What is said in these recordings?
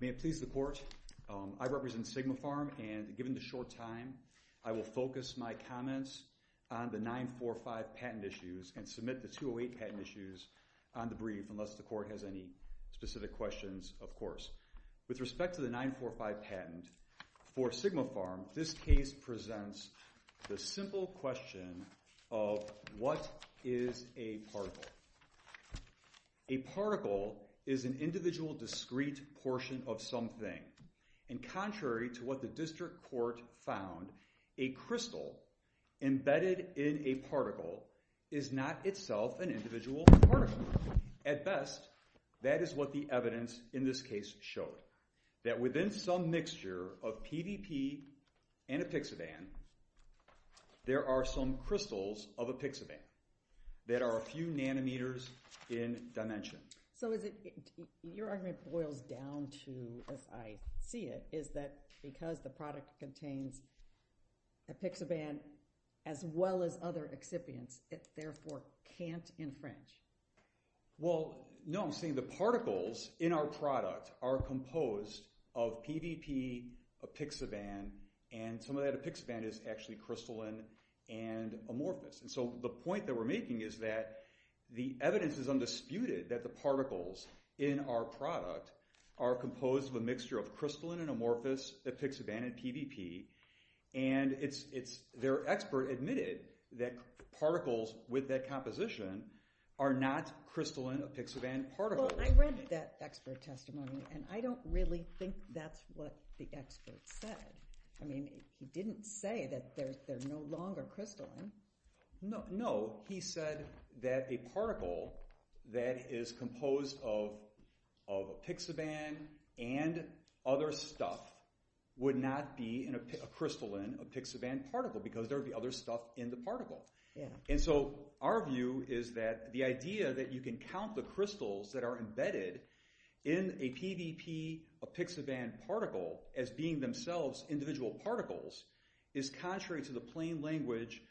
May it please the Court, I represent Sigmapharm and given the short time, I will focus my comments on the 945 patent issues and submit the 208 patent issues on the brief, unless the Court has any specific questions, of course. With respect to the 945 patent for Sigmapharm, this case presents the simple question of what is a particle? A particle is an individual discrete portion of something and contrary to what the District Court found, a crystal embedded in a particle is not itself an individual particle. At best, that is what the evidence in this case showed, that within some mixture of PVP and epixaban, there are some crystals of epixaban that are a few nanometers in dimension. So your argument boils down to, as I see it, is that because the product contains epixaban as well as other excipients, it therefore can't infringe? Well, no, I'm saying the particles in our product are composed of PVP, epixaban, and some of that epixaban is actually crystalline and amorphous. So the point that we're making is that the evidence is undisputed that the particles in our product are composed of a mixture of crystalline and amorphous epixaban and PVP and their expert admitted that particles with that composition are not crystalline epixaban particles. Well, I read that expert testimony and I don't really think that's what the expert said. I mean, he didn't say that they're no longer crystalline. No, he said that a particle that is composed of epixaban and other stuff would not be an crystalline epixaban particle because there would be other stuff in the particle. And so our view is that the idea that you can count the crystals that are embedded in a PVP epixaban particle as being themselves individual particles is contrary to the plain language,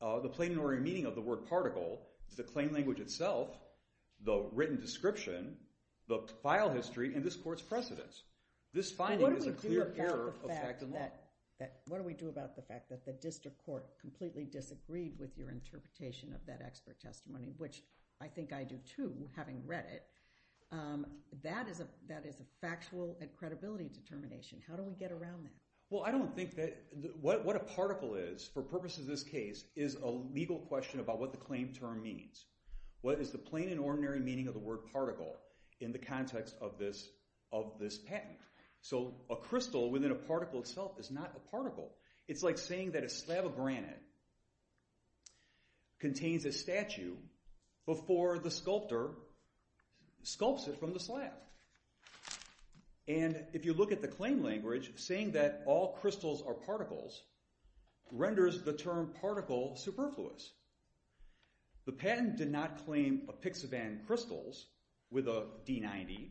the plain and ordinary meaning of the word particle, the plain language itself, the written description, the file history, and this court's precedence. This finding is a clear error of fact and law. What do we do about the fact that the district court completely disagreed with your interpretation of that expert testimony, which I think I do too, having read it. That is a factual and credibility determination. How do we get around that? Well, I don't think that what a particle is, for purposes of this case, is a legal question about what the claim term means. What is the plain and ordinary meaning of the word particle in the context of this patent? So a crystal within a particle itself is not a particle. It's like saying that a slab of granite contains a statue before the sculptor sculpts it from the slab. And if you look at the claim language, saying that all crystals are particles renders the term particle superfluous. The patent did not claim a pixivan crystals with a D90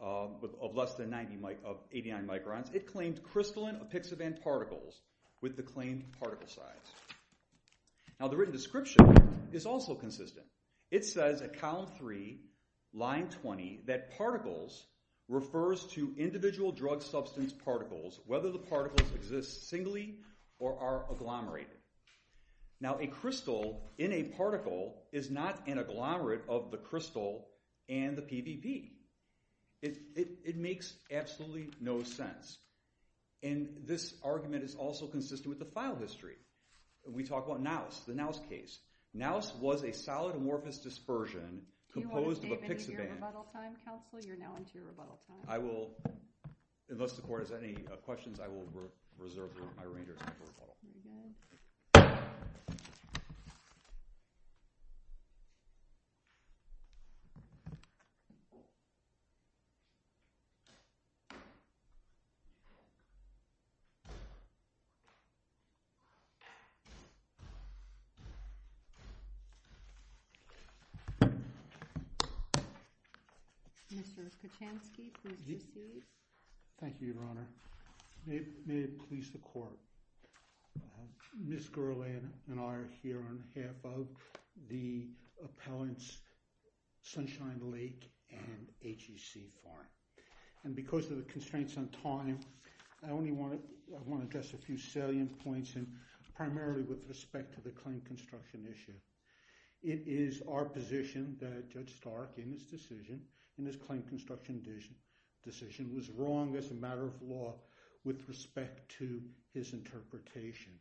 of less than 80 microns. It claimed crystalline pixivan particles with the claimed particle size. Now the written description is also consistent. It says at column three, line 20, that particles refers to individual drug substance particles, whether the particles exist singly or are agglomerated. Now a crystal in a particle is not an agglomerate of the crystal and the PPP. It makes absolutely no sense. And this argument is also consistent with the file history. We talk about Nows, the Nows case. Nows was a solid amorphous dispersion composed of a pixivan. You want to save it until your rebuttal time, counsel? You're now into your rebuttal time. I will, unless the court has any questions, I will reserve my reinders for rebuttal. Thank you, Your Honor. May it please the court. Ms. Guerlain and I are here on behalf of the appellants Sunshine Lake and HEC Farm. And because of the constraints on time, I only want to address a few salient points, and primarily with respect to the claim construction issue. It is our position that Judge Stark, in his decision, in his claim construction decision, was wrong as a matter of law with respect to his interpretation.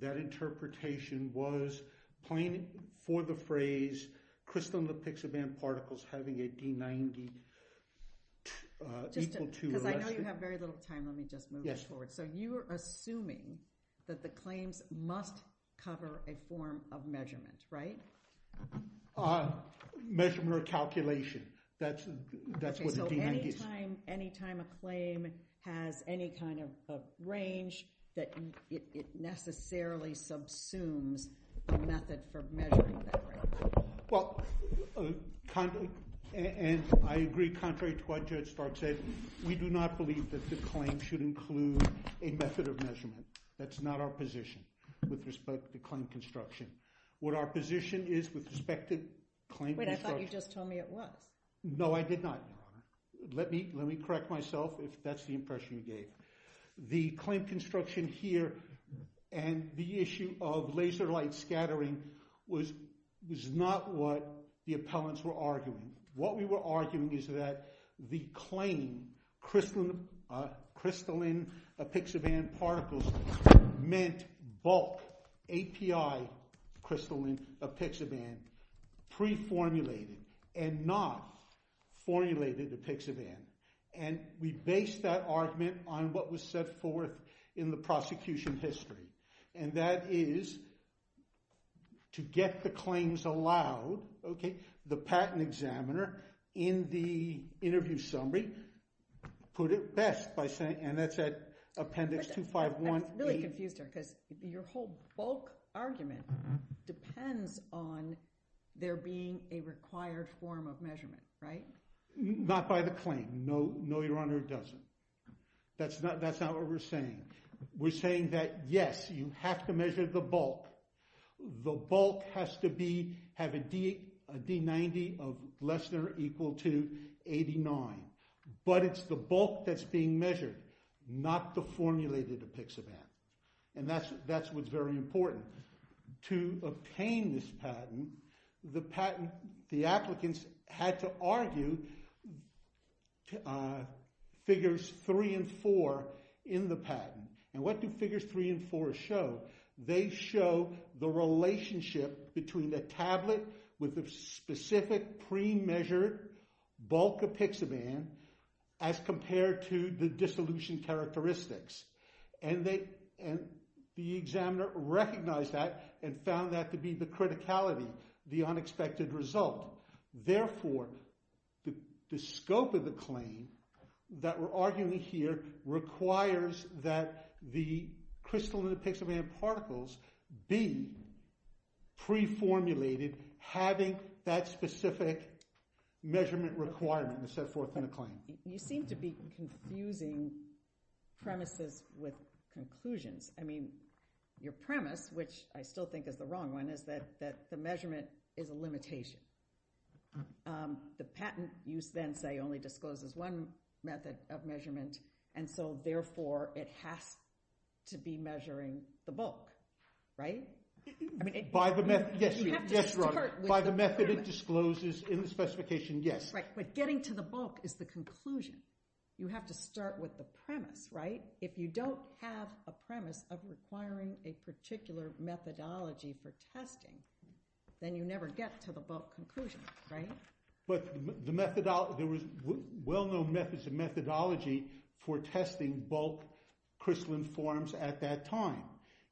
That interpretation was plain for the phrase crystal in the pixivan particles having a D90 equal to. Because I know you have very little time, let me just move it forward. So you are assuming that the claims must cover a form of measurement, right? Measurement or calculation, that's what the D90 is. So any time a claim has any kind of range, that it necessarily subsumes a method for measuring that range. Well, and I agree contrary to what Judge Stark said, we do not believe that the claim should include a method of measurement. That's not our position with respect to the claim construction. What our position is with respect to claim construction. Wait, I thought you just told me it was. No, I did not. Let me correct myself if that's the impression you gave. The claim construction here and the issue of laser light scattering was not what the appellants were arguing. What we were arguing is that the claim crystalline pixivan particles meant bulk API crystalline pixivan pre-formulated and not formulated to pixivan. And we based that argument on what was set forth in the prosecution history. And that is to get the claims allowed, okay, the patent examiner in the interview summary put it best by saying, and that's at appendix 251. I'm really confused here because your whole bulk argument depends on there being a required form of measurement, right? Not by the claim. No, Your Honor, it doesn't. That's not what we're saying. We're saying that, yes, you have to measure the bulk. The bulk has to have a D90 of less than or equal to 89. But it's the bulk that's being measured, not the formulated pixivan. And that's what's very important. To obtain this patent, the patent, the applicants had to argue figures three and four in the patent. And what do figures three and four show? They show the relationship between the tablet with the specific pre-measured bulk of pixivan as compared to the dissolution characteristics. And the examiner recognized that and found that to be the criticality, the unexpected result. Therefore, the scope of the claim that we're arguing here requires that the crystalline pixivan particles be pre-formulated, having that specific measurement requirement to set forth in the claim. You seem to be confusing premises with conclusions. I mean, your premise, which I still think is the wrong one, is that the measurement is a limitation. The patent use then, say, only discloses one method of measurement, and so, therefore, it has to be measuring the bulk, right? By the method, yes. By the method it discloses in the specification, yes. Right, but getting to the bulk is the conclusion. You have to start with the premise, right? If you don't have a premise of requiring a particular methodology for testing, then you never get to the bulk conclusion, right? But there was well-known methods and methodology for testing bulk crystalline forms at that time.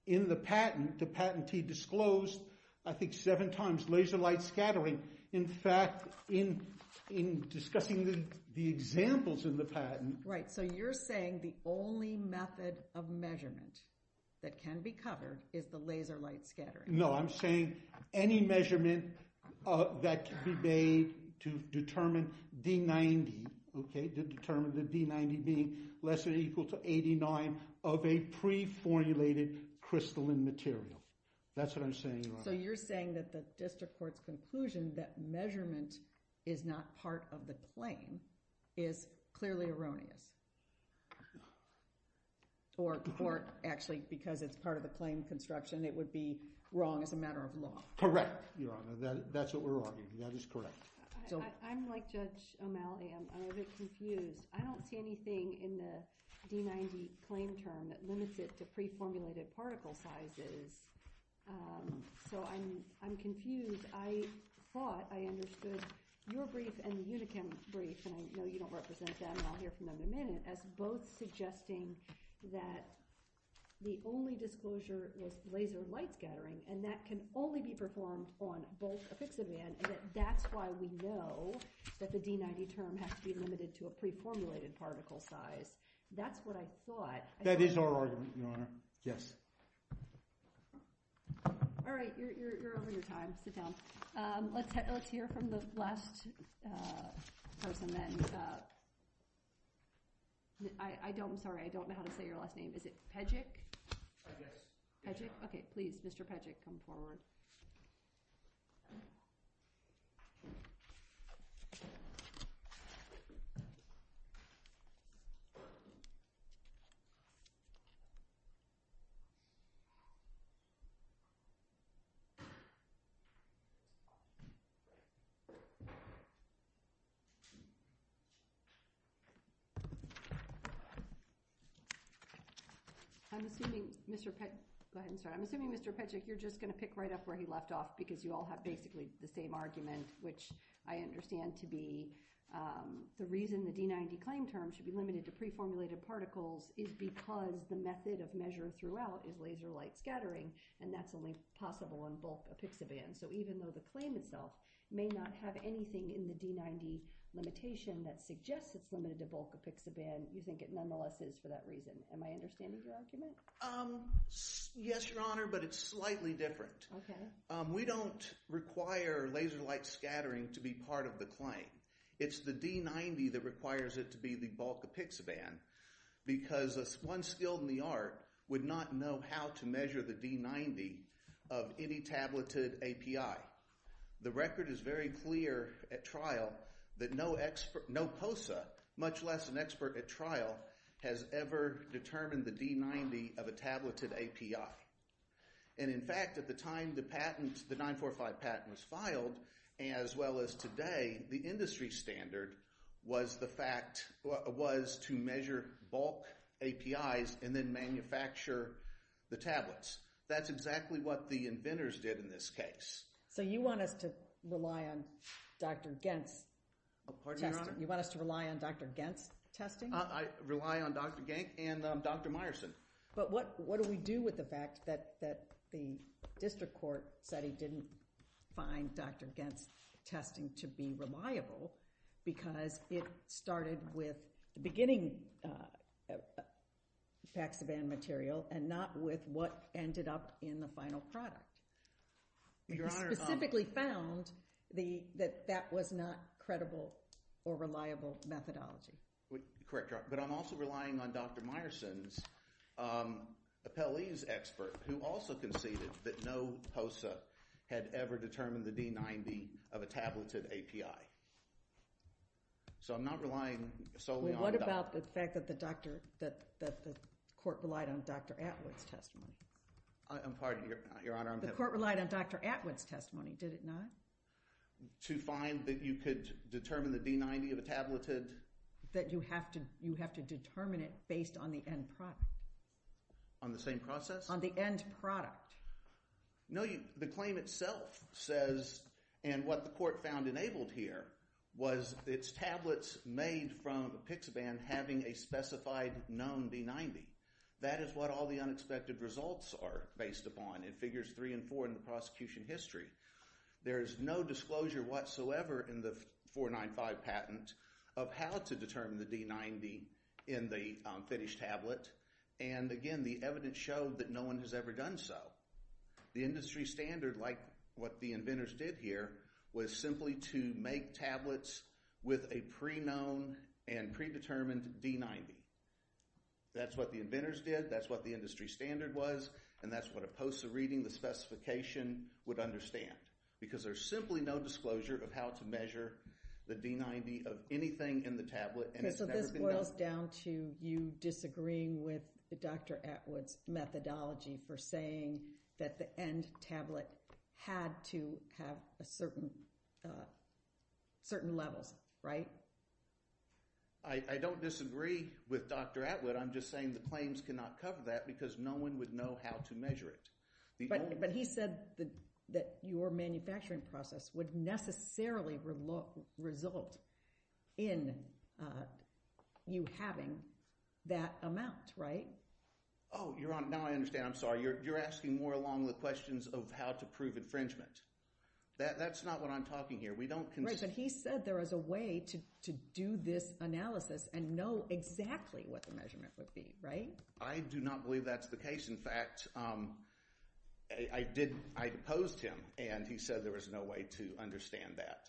In the patent, the patentee disclosed, I think, seven times laser light scattering. In fact, in discussing the examples in the patent. Right, so you're saying the only method of measurement that can be covered is the laser light scattering. No, I'm saying any measurement that can be made to determine D90, to determine the D90 being less than or equal to 89 of a pre-formulated crystalline material. That's what I'm saying, Your Honor. So you're saying that the district court's conclusion that measurement is not part of the claim is clearly erroneous. Or actually, because it's part of the claim construction, it would be wrong as a matter of law. Correct, Your Honor. That's what we're arguing. That is correct. I'm like Judge O'Malley. I'm a bit confused. I don't see anything in the D90 claim term that limits it to pre-formulated particle sizes. So I'm confused. I thought I understood your brief and the Unichem brief, and I know you don't represent them, and I'll hear from them in a minute, as both suggesting that the only disclosure was laser light scattering, and that can only be performed on bulk epixavan, and that that's why we know that the D90 term has to be limited to a pre-formulated particle size. That's what I thought. That is our argument, Your Honor. Yes. All right. You're over your time. Sit down. Let's hear from the last person then. I'm sorry. I don't know how to say your last name. Is it Pejek? I guess. Pejek? Okay. Please, Mr. Pejek, come forward. I'm assuming, Mr. Pe... Go ahead and start. I'm assuming, Mr. Pejek, you're just going to pick right up where he left off, because you all have basically the same argument, which I understand to be the reason the D90 claim term should be limited to pre-formulated particles is because the method of measure throughout is laser light scattering, and that's only possible on bulk epixavan. So even though the claim itself may not have anything in the D90 limitation that suggests it's limited to bulk epixavan, you think it nonetheless is for that reason. Am I understanding your argument? Yes, Your Honor, but it's slightly different. Okay. We don't require laser light scattering to be part of the claim. It's the D90 that requires it to be the bulk epixavan because one skilled in the art would not know how to measure the D90 of any tableted API. The record is very clear at trial that no POSA, much less an expert at trial, has ever determined the D90 of a tableted API. And in fact, at the time the 945 patent was filed, as well as today, the industry standard was to measure bulk APIs and then manufacture the tablets. That's exactly what the inventors did in this case. So you want us to rely on Dr. Gens' testing? Pardon me, Your Honor? You want us to rely on Dr. Gens' testing? I rely on Dr. Genk and Dr. Meyerson. But what do we do with the fact that the district court said he didn't find Dr. Gens' testing to be reliable because it started with the beginning epixavan material and not with what ended up in the final product? We specifically found that that was not credible or reliable methodology. Correct, Your Honor. But I'm also relying on Dr. Meyerson's appellees expert who also conceded that no POSA had ever determined the D90 of a tableted API. So I'm not relying solely on the doctor. What about the fact that the court relied on Dr. Atwood's testimony? I'm sorry, Your Honor. The court relied on Dr. Atwood's testimony, did it not? To find that you could determine the D90 of a tableted? That you have to determine it based on the end product. On the same process? On the end product. No, the claim itself says, and what the court found enabled here, was its tablets made from epixavan having a specified known D90. That is what all the unexpected results are based upon in figures three and four in the prosecution history. There is no disclosure whatsoever in the 495 patent of how to determine the D90 in the finished tablet. And again, the evidence showed that no one has ever done so. The industry standard, like what the inventors did here, was simply to make tablets with a pre-known and pre-determined D90. That's what the inventors did, that's what the industry standard was, and that's what a poster reading, the specification, would understand. Because there's simply no disclosure of how to measure the D90 of anything in the tablet. So this boils down to you disagreeing with Dr. Atwood's methodology for saying that the end tablet had to have certain levels, right? I don't disagree with Dr. Atwood, I'm just saying the claims cannot cover that because no one would know how to measure it. But he said that your manufacturing process would necessarily result in you having that amount, right? Oh, now I understand, I'm sorry. You're asking more along the questions of how to prove infringement. That's not what I'm talking here. Right, but he said there was a way to do this analysis and know exactly what the measurement would be, right? I do not believe that's the case. In fact, I opposed him, and he said there was no way to understand that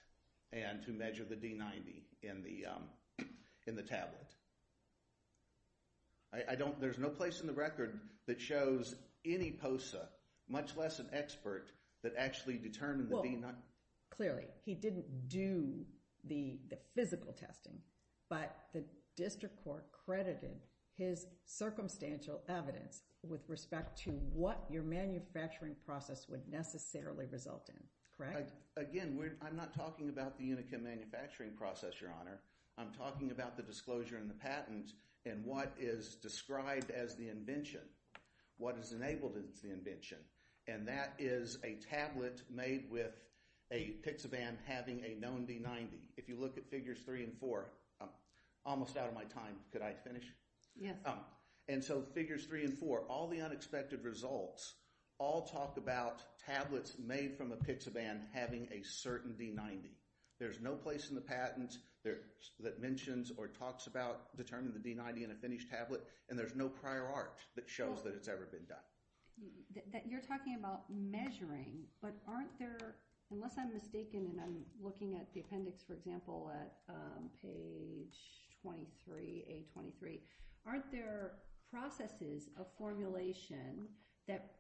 and to measure the D90 in the tablet. There's no place in the record that shows any poster, much less an expert, that actually determined the D90. Clearly, he didn't do the physical testing, but the district court credited his circumstantial evidence with respect to what your manufacturing process would necessarily result in, correct? Again, I'm not talking about the Unicam manufacturing process, Your Honor, I'm talking about the disclosure and the patent and what is described as the invention, what is enabled as the invention. And that is a tablet made with a PIXABAN having a known D90. If you look at Figures 3 and 4, I'm almost out of my time, could I finish? Yeah. And so Figures 3 and 4, all the unexpected results all talk about tablets made from a PIXABAN having a certain D90. There's no place in the patent that mentions or talks about determining the D90 in a finished tablet, and there's no prior art that shows that it's ever been done. You're talking about measuring, but aren't there, unless I'm mistaken and I'm looking at the appendix, for example, at page 23, A23, aren't there processes of formulation that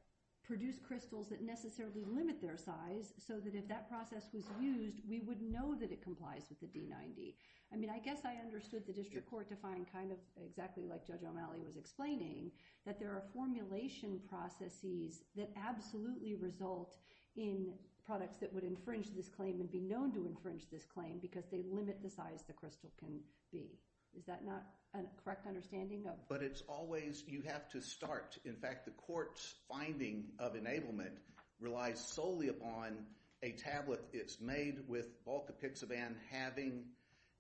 produce crystals that necessarily limit their size so that if that process was used, we would know that it complies with the D90? I mean, I guess I understood the district court to find kind of exactly like Judge O'Malley was explaining that there are formulation processes that absolutely result in products that would infringe this claim and be known to infringe this claim because they limit the size the crystal can be. Is that not a correct understanding? But it's always, you have to start. In fact, the court's finding of enablement relies solely upon a tablet it's made with bulk of PIXABAN having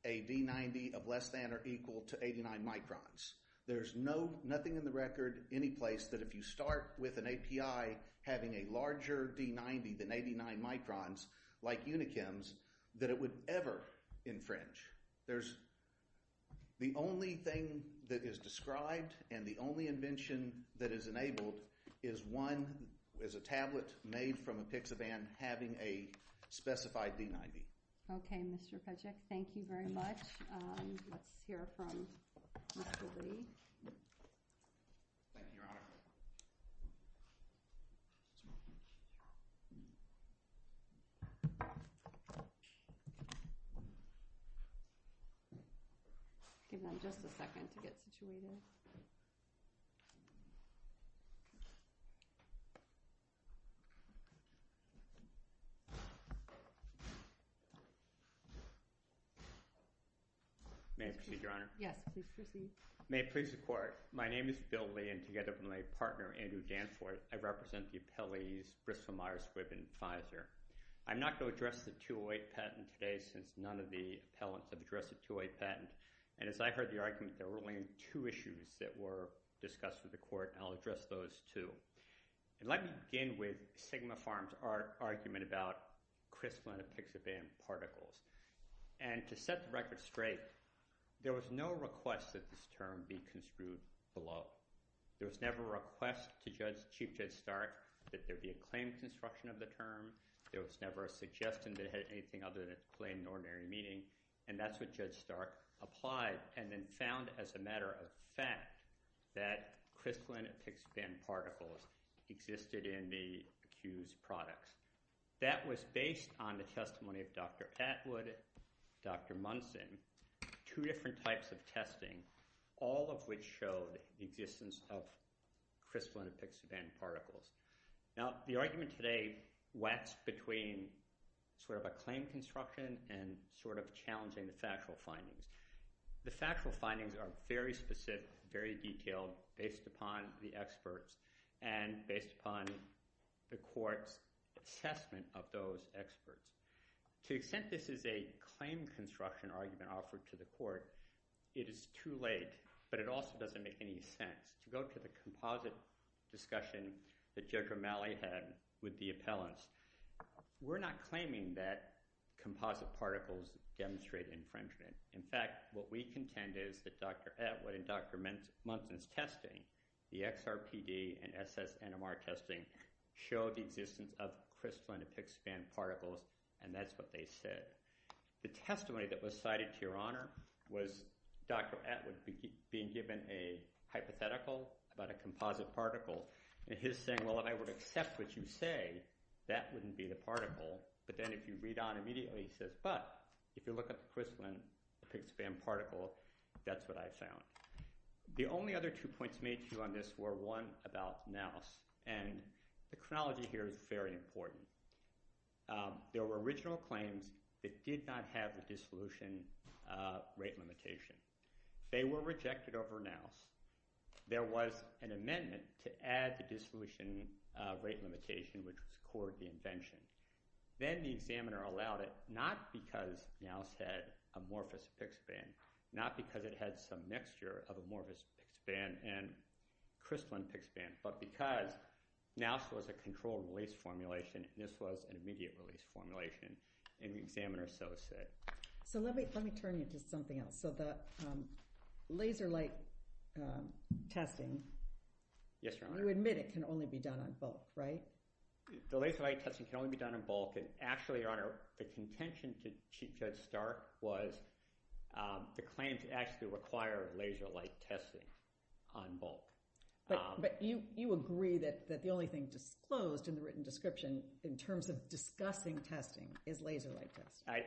a D90 of less than or equal to 89 microns. There's nothing in the record, any place, that if you start with an API having a larger D90 than 89 microns, like Unichem's, that it would ever infringe. There's, the only thing that is described and the only invention that is enabled is one, is a tablet made from a PIXABAN having a specified D90. Okay, Mr. Pejic, thank you very much. Let's hear from Mr. Lee. Thank you, Your Honor. Give them just a second to get situated. May I proceed, Your Honor? Yes, please proceed. May it please the court, my name is Bill Lee and together with my partner, Andrew Danforth, I represent the appellees Briscoe Meyers-Squibb and Fizer. I'm not going to address the 208 patent today since none of the appellants have addressed the 208 patent and as I heard the argument, there were only two issues that were discussed with the court and I'll address those two. I'd like to begin with Sigma Farm's argument about CRISPR and a PIXABAN particles. And to set the record straight, there was no request that this term be construed below. There was never a request to Chief Judge Stark that there be a claim construction of the term. There was never a suggestion that it had anything other than plain and ordinary meaning and that's what Judge Stark applied and then found as a matter of fact that CRISPR and a PIXABAN particles existed in the accused products. That was based on the testimony of Dr. Atwood, Dr. Munson, two different types of testing, all of which showed the existence of CRISPR and a PIXABAN particles. Now, the argument today waxed between sort of a claim construction and sort of challenging the factual findings. The factual findings are very specific, very detailed based upon the experts and based upon the court's assessment of those experts. To the extent this is a claim construction argument offered to the court, it is too late, but it also doesn't make any sense. To go to the composite discussion that Judge Romali had with the appellants, we're not claiming that composite particles demonstrate infringement. In fact, what we contend is that Dr. Atwood and Dr. Munson's testing, the XRPD and SSNMR testing, showed the existence of CRISPR and a PIXABAN particles, and that's what they said. The testimony that was cited to Your Honor was Dr. Atwood being given a hypothetical about a composite particle, and his saying, well, if I would accept what you say, that wouldn't be the particle. But then if you read on immediately, he says, but if you look at the CRISPR and the PIXABAN particle, that's what I found. The only other two points made to you on this were, one, about NAUS, and the chronology here is very important. There were original claims that did not have the dissolution rate limitation. They were rejected over NAUS. There was an amendment to add the dissolution rate limitation, which was core of the invention. Then the examiner allowed it, not because NAUS had amorphous PIXABAN, not because it had some mixture of amorphous PIXABAN and CRISPR and PIXABAN, but because NAUS was a controlled release formulation, and this was an immediate release formulation, and the examiner so said. So let me turn you to something else. So the laser light testing... Yes, Your Honor. ...you admit it can only be done on bulk, right? The laser light testing can only be done on bulk, and actually, Your Honor, the contention to Chief Judge Stark was the claims actually require laser light testing on bulk. But you agree that the only thing disclosed in the written description in terms of discussing testing is laser light testing.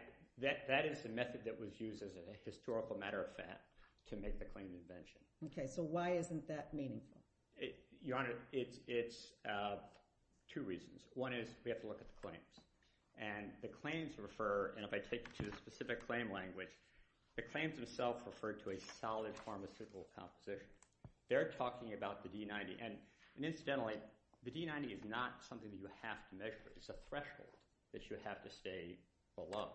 That is the method that was used as a historical matter of fact to make the claim of invention. Okay, so why isn't that meaningful? One is we have to look at the claims, and the claims refer, and if I take you to the specific claim language, the claims themselves refer to a solid pharmaceutical composition. They're talking about the D90, and incidentally, the D90 is not something that you have to measure. It's a threshold that you have to stay below.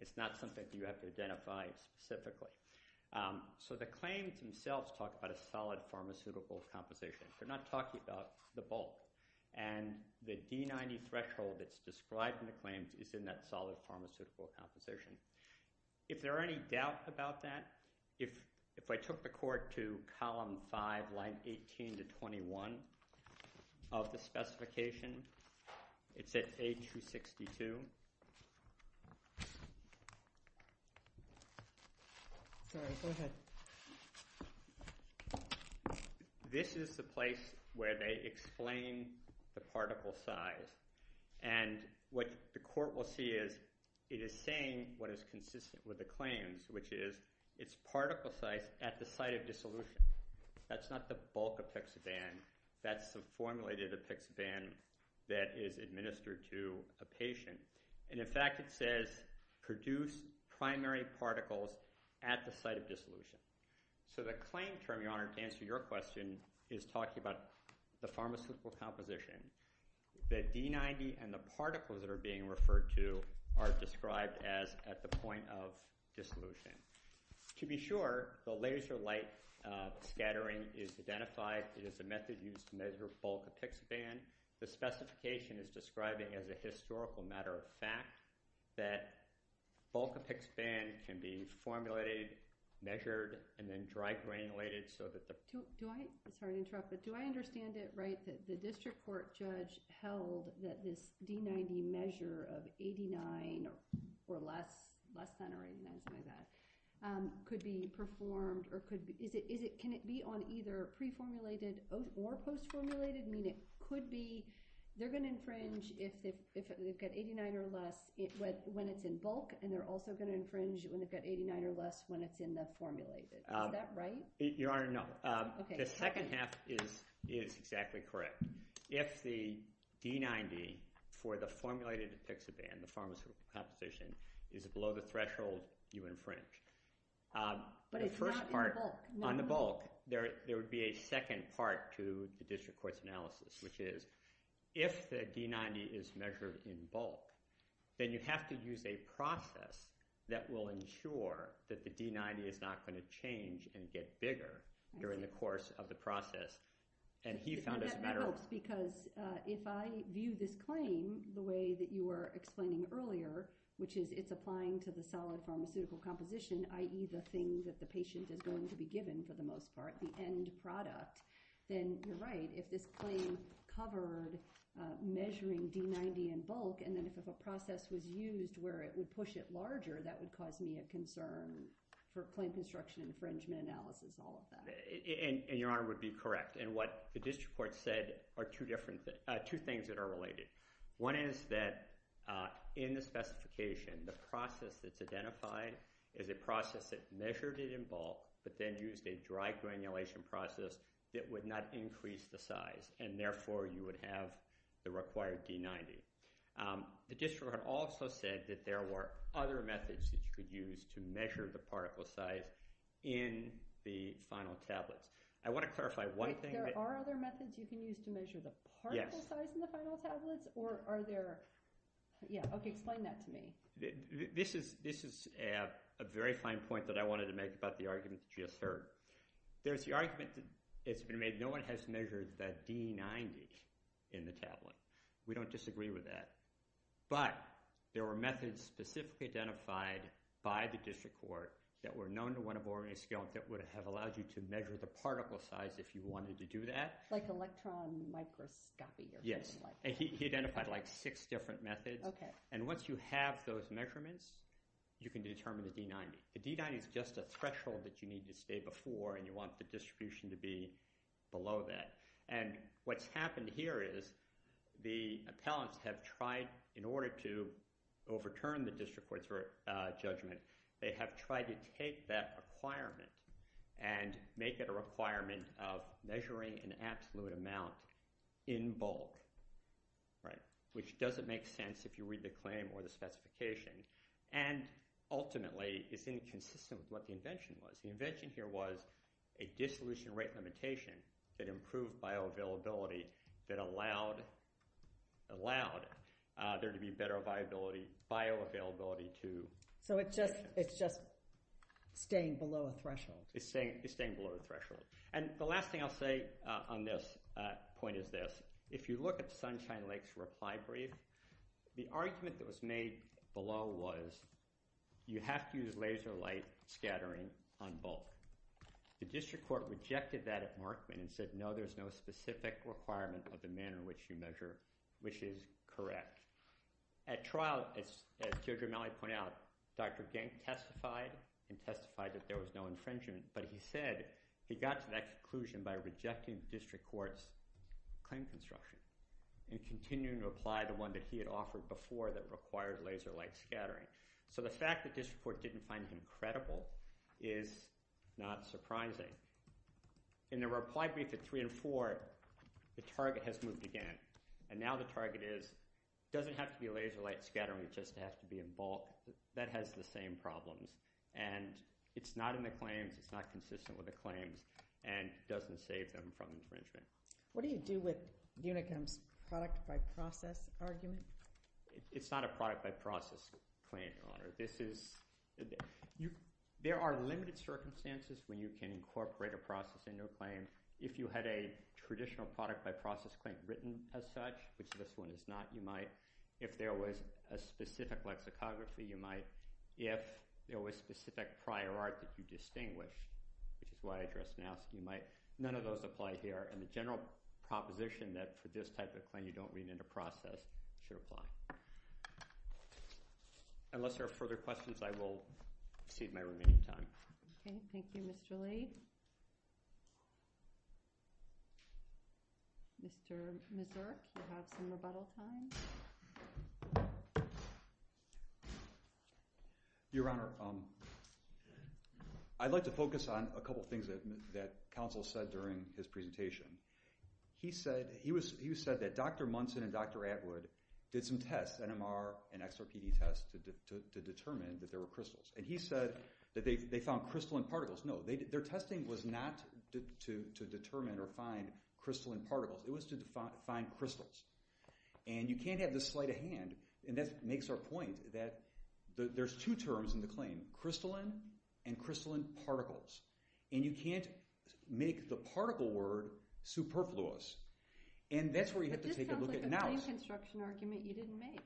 It's not something that you have to identify specifically. So the claims themselves talk about a solid pharmaceutical composition. They're not talking about the bulk, and the D90 threshold that's described in the claims is in that solid pharmaceutical composition. If there are any doubts about that, if I took the court to Column 5, Lines 18 to 21 of the specification, it's at H262. Sorry, go ahead. This is the place where they explain the particle size, and what the court will see is it is saying what is consistent with the claims, which is it's particle size at the site of dissolution. That's not the bulk of Pexaban. That's the formula to the Pexaban that is administered to a patient, and in fact, it says produce primary particles at the site of dissolution. So the claim term, Your Honor, to answer your question is talking about the pharmaceutical composition. The D90 and the particles that are being referred to are described as at the point of dissolution. To be sure, the laser light scattering is identified. It is a method used to measure bulk of Pexaban. The specification is describing as a historical matter of fact that bulk of Pexaban can be formulated, measured, and then dry granulated so that the... Sorry to interrupt, but do I understand it right that the district court judge held that this D90 measure of 89 or less, less than or 89 is my bet, could be performed or could... Can it be on either pre-formulated or post-formulated? I mean, it could be... They're going to infringe if they've got 89 or less. When it's in bulk, and they're also going to infringe when they've got 89 or less when it's in the formulated. Is that right? Your Honor, no. The second half is exactly correct. If the D90 for the formulated Pexaban, the pharmaceutical composition, is below the threshold, you infringe. But it's not in bulk. On the bulk, there would be a second part to the district court's analysis, which is if the D90 is measured in bulk, then you have to use a process that will ensure that the D90 is not going to change and get bigger during the course of the process. And he found it better... That helps, because if I view this claim the way that you were explaining earlier, which is it's applying to the solid pharmaceutical composition, i.e. the thing that the patient is going to be given for the most part, the end product, then you're right. If this claim covered measuring D90 in bulk and then if a process was used where it would push it larger, that would cause me a concern for claim construction infringement analysis, all of that. And Your Honor would be correct. And what the district court said are two things that are related. One is that in the specification, the process that's identified is a process that measured it in bulk but then used a dry granulation process that would not increase the size, and therefore you would have the required D90. The district court also said that there were other methods that you could use to measure the particle size in the final tablets. I want to clarify one thing. There are other methods you can use to measure the particle size in the final tablets? Yes. Or are there... Yeah, okay, explain that to me. This is a very fine point that I wanted to make about the argument that you just heard. There's the argument that's been made that no one has measured the D90 in the tablet. We don't disagree with that. But there were methods specifically identified by the district court that were known to one of the organized skeletons that would have allowed you to measure the particle size if you wanted to do that. Like electron microscopy or something like that? Yes, and he identified, like, six different methods. Okay. And once you have those measurements, you can determine the D90. The D90 is just a threshold that you need to stay before and you want the distribution to be below that. And what's happened here is the appellants have tried, in order to overturn the district court's judgment, they have tried to take that requirement and make it a requirement of measuring an absolute amount in bulk, right, which doesn't make sense if you read the claim or the specification and ultimately is inconsistent with what the invention was. The invention here was a dissolution rate limitation that improved bioavailability that allowed there to be better bioavailability to... So it's just staying below a threshold. It's staying below a threshold. And the last thing I'll say on this point is this. If you look at Sunshine Lake's reply brief, the argument that was made below was you have to use laser light scattering on bulk. The district court rejected that at Markman and said, no, there's no specific requirement of the manner in which you measure, which is correct. At trial, as Judge O'Malley pointed out, Dr. Genk testified and testified that there was no infringement, but he said he got to that conclusion by rejecting the district court's claim construction and continuing to apply the one that he had offered before that required laser light scattering. So the fact that district court didn't find him credible is not surprising. In the reply brief at three and four, the target has moved again. And now the target is, it doesn't have to be laser light scattering, it just has to be in bulk. That has the same problems. And it's not in the claims, it's not consistent with the claims, and it doesn't save them from infringement. What do you do with Unicom's product by process argument? It's not a product by process claim, Your Honor. There are limited circumstances when you can incorporate a process into a claim. If you had a traditional product by process claim written as such, which this one is not, you might. If there was a specific lexicography, you might. If there was specific prior art that you distinguish, which is why I addressed it now, you might. None of those apply here. And the general proposition that for this type of claim you don't read into process should apply. Unless there are further questions, I will cede my remaining time. Okay, thank you, Mr. Lee. Mr. Mazur, you have some rebuttal time. Your Honor, I'd like to focus on a couple things that counsel said during his presentation. He said that Dr. Munson and Dr. Atwood did some tests, NMR and XRPD tests, to determine that there were crystals. And he said that they found crystalline particles. No, their testing was not to determine or find crystalline particles. It was to find crystals. And you can't have the sleight of hand, and that makes our point, that there's two terms in the claim, crystalline and crystalline particles. And you can't make the particle word superfluous. And that's where you have to take a look at it now. But this sounds like a claim construction argument you didn't make.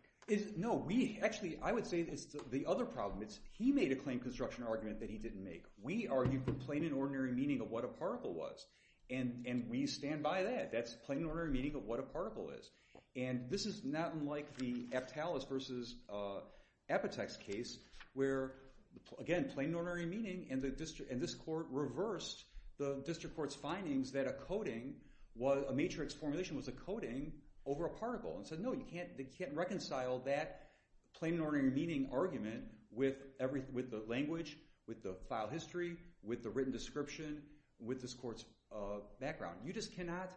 No, we, actually, I would say it's the other problem. It's he made a claim construction argument that he didn't make. We argued for plain and ordinary meaning of what a particle was. And we stand by that. That's plain and ordinary meaning of what a particle is. And this is not unlike the Aptalis versus Apotex case, where, again, plain and ordinary meaning, and this court reversed the district court's findings that a matrix formulation was a coding over a particle and said, no, they can't reconcile that plain and ordinary meaning argument with the language, with the file history, with the written description, with this court's background. You just cannot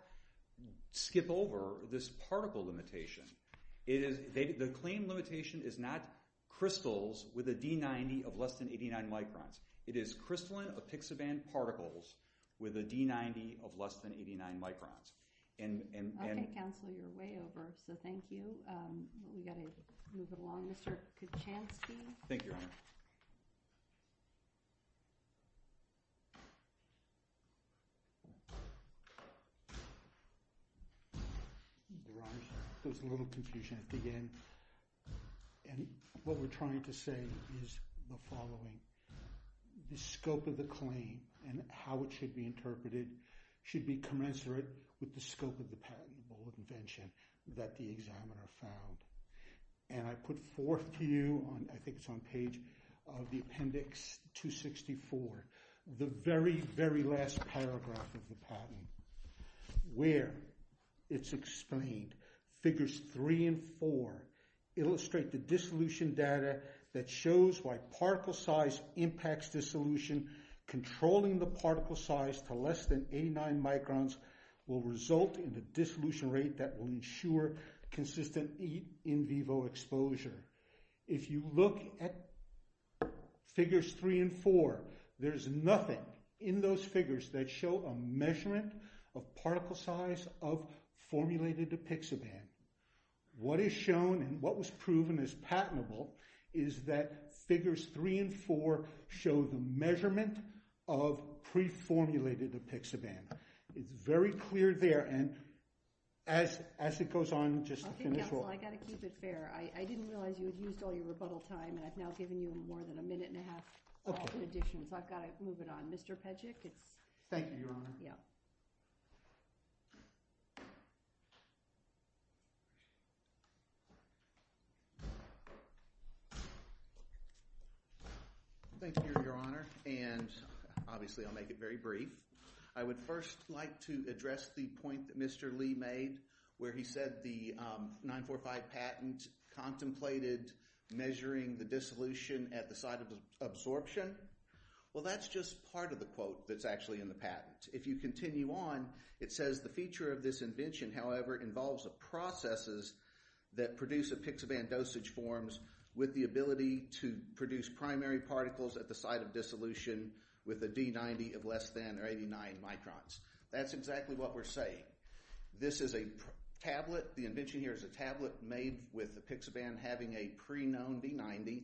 skip over this particle limitation. The claim limitation is not crystals with a D90 of less than 89 microns. It is crystalline epixaban particles with a D90 of less than 89 microns. OK, Counselor, you're way over. So thank you. We've got to move it along. Mr. Kuchanski? Thank you, Your Honor. Your Honor, there's a little confusion at the end. And what we're trying to say is the following. The scope of the claim and how it should be interpreted should be commensurate with the scope of the patent or invention that the examiner found. And I put forth to you on, I think it's on page of the appendix 264, the very, very last paragraph of the patent, where it's explained. Figures 3 and 4 illustrate the dissolution data that shows why particle size impacts dissolution. Controlling the particle size to less than 89 microns will result in the dissolution rate that will ensure consistent in vivo exposure. If you look at figures 3 and 4, there's nothing in those figures that show a measurement of particle size of formulated epixaban. What is shown and what was proven is patentable is that figures 3 and 4 show the measurement of pre-formulated epixaban. It's very clear there. And as it goes on, just to finish off. OK, counsel, I've got to keep it fair. I didn't realize you had used all your rebuttal time. And I've now given you more than a minute and a half all the additions. I've got to move it on. Thank you, Your Honor. Thank you, Your Honor. And obviously, I'll make it very brief. I would first like to address the point that Mr. Lee made, where he said the 945 patent contemplated measuring the dissolution at the site of absorption. Well, that's just part of the quote that's actually in the patent. If you continue on, it says the feature of this invention, however, involves the processes that produce epixaban dosage forms with the ability to produce primary particles at the site of dissolution with a D90 of less than 89 microns. That's exactly what we're saying. This is a tablet. The invention here is a tablet made with epixaban having a pre-known D90.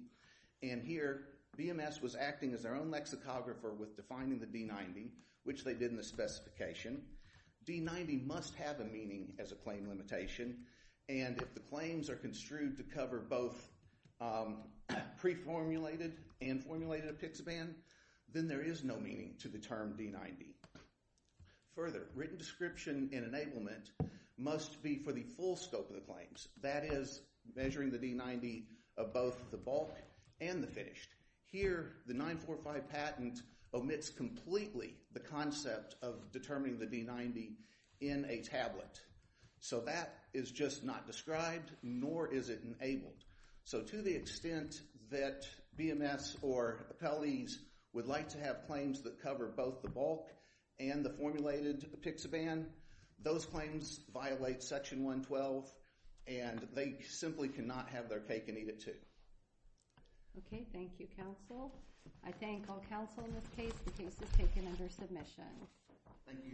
And here, BMS was acting as their own lexicographer with defining the D90, which they did in the specification. D90 must have a meaning as a claim limitation. And if the claims are construed to cover both pre-formulated and formulated epixaban, then there is no meaning to the term D90. Further, written description and enablement must be for the full scope of the claims. That is, measuring the D90 of both the bulk and the finished. Here, the 945 patent omits completely the concept of determining the D90 in a tablet. So that is just not described, nor is it enabled. So to the extent that BMS or appellees would like to have claims that cover both the bulk and the formulated epixaban, those claims violate Section 112, and they simply cannot have their cake and eat it too. Okay, thank you, counsel. I thank all counsel in this case. The case is taken under submission.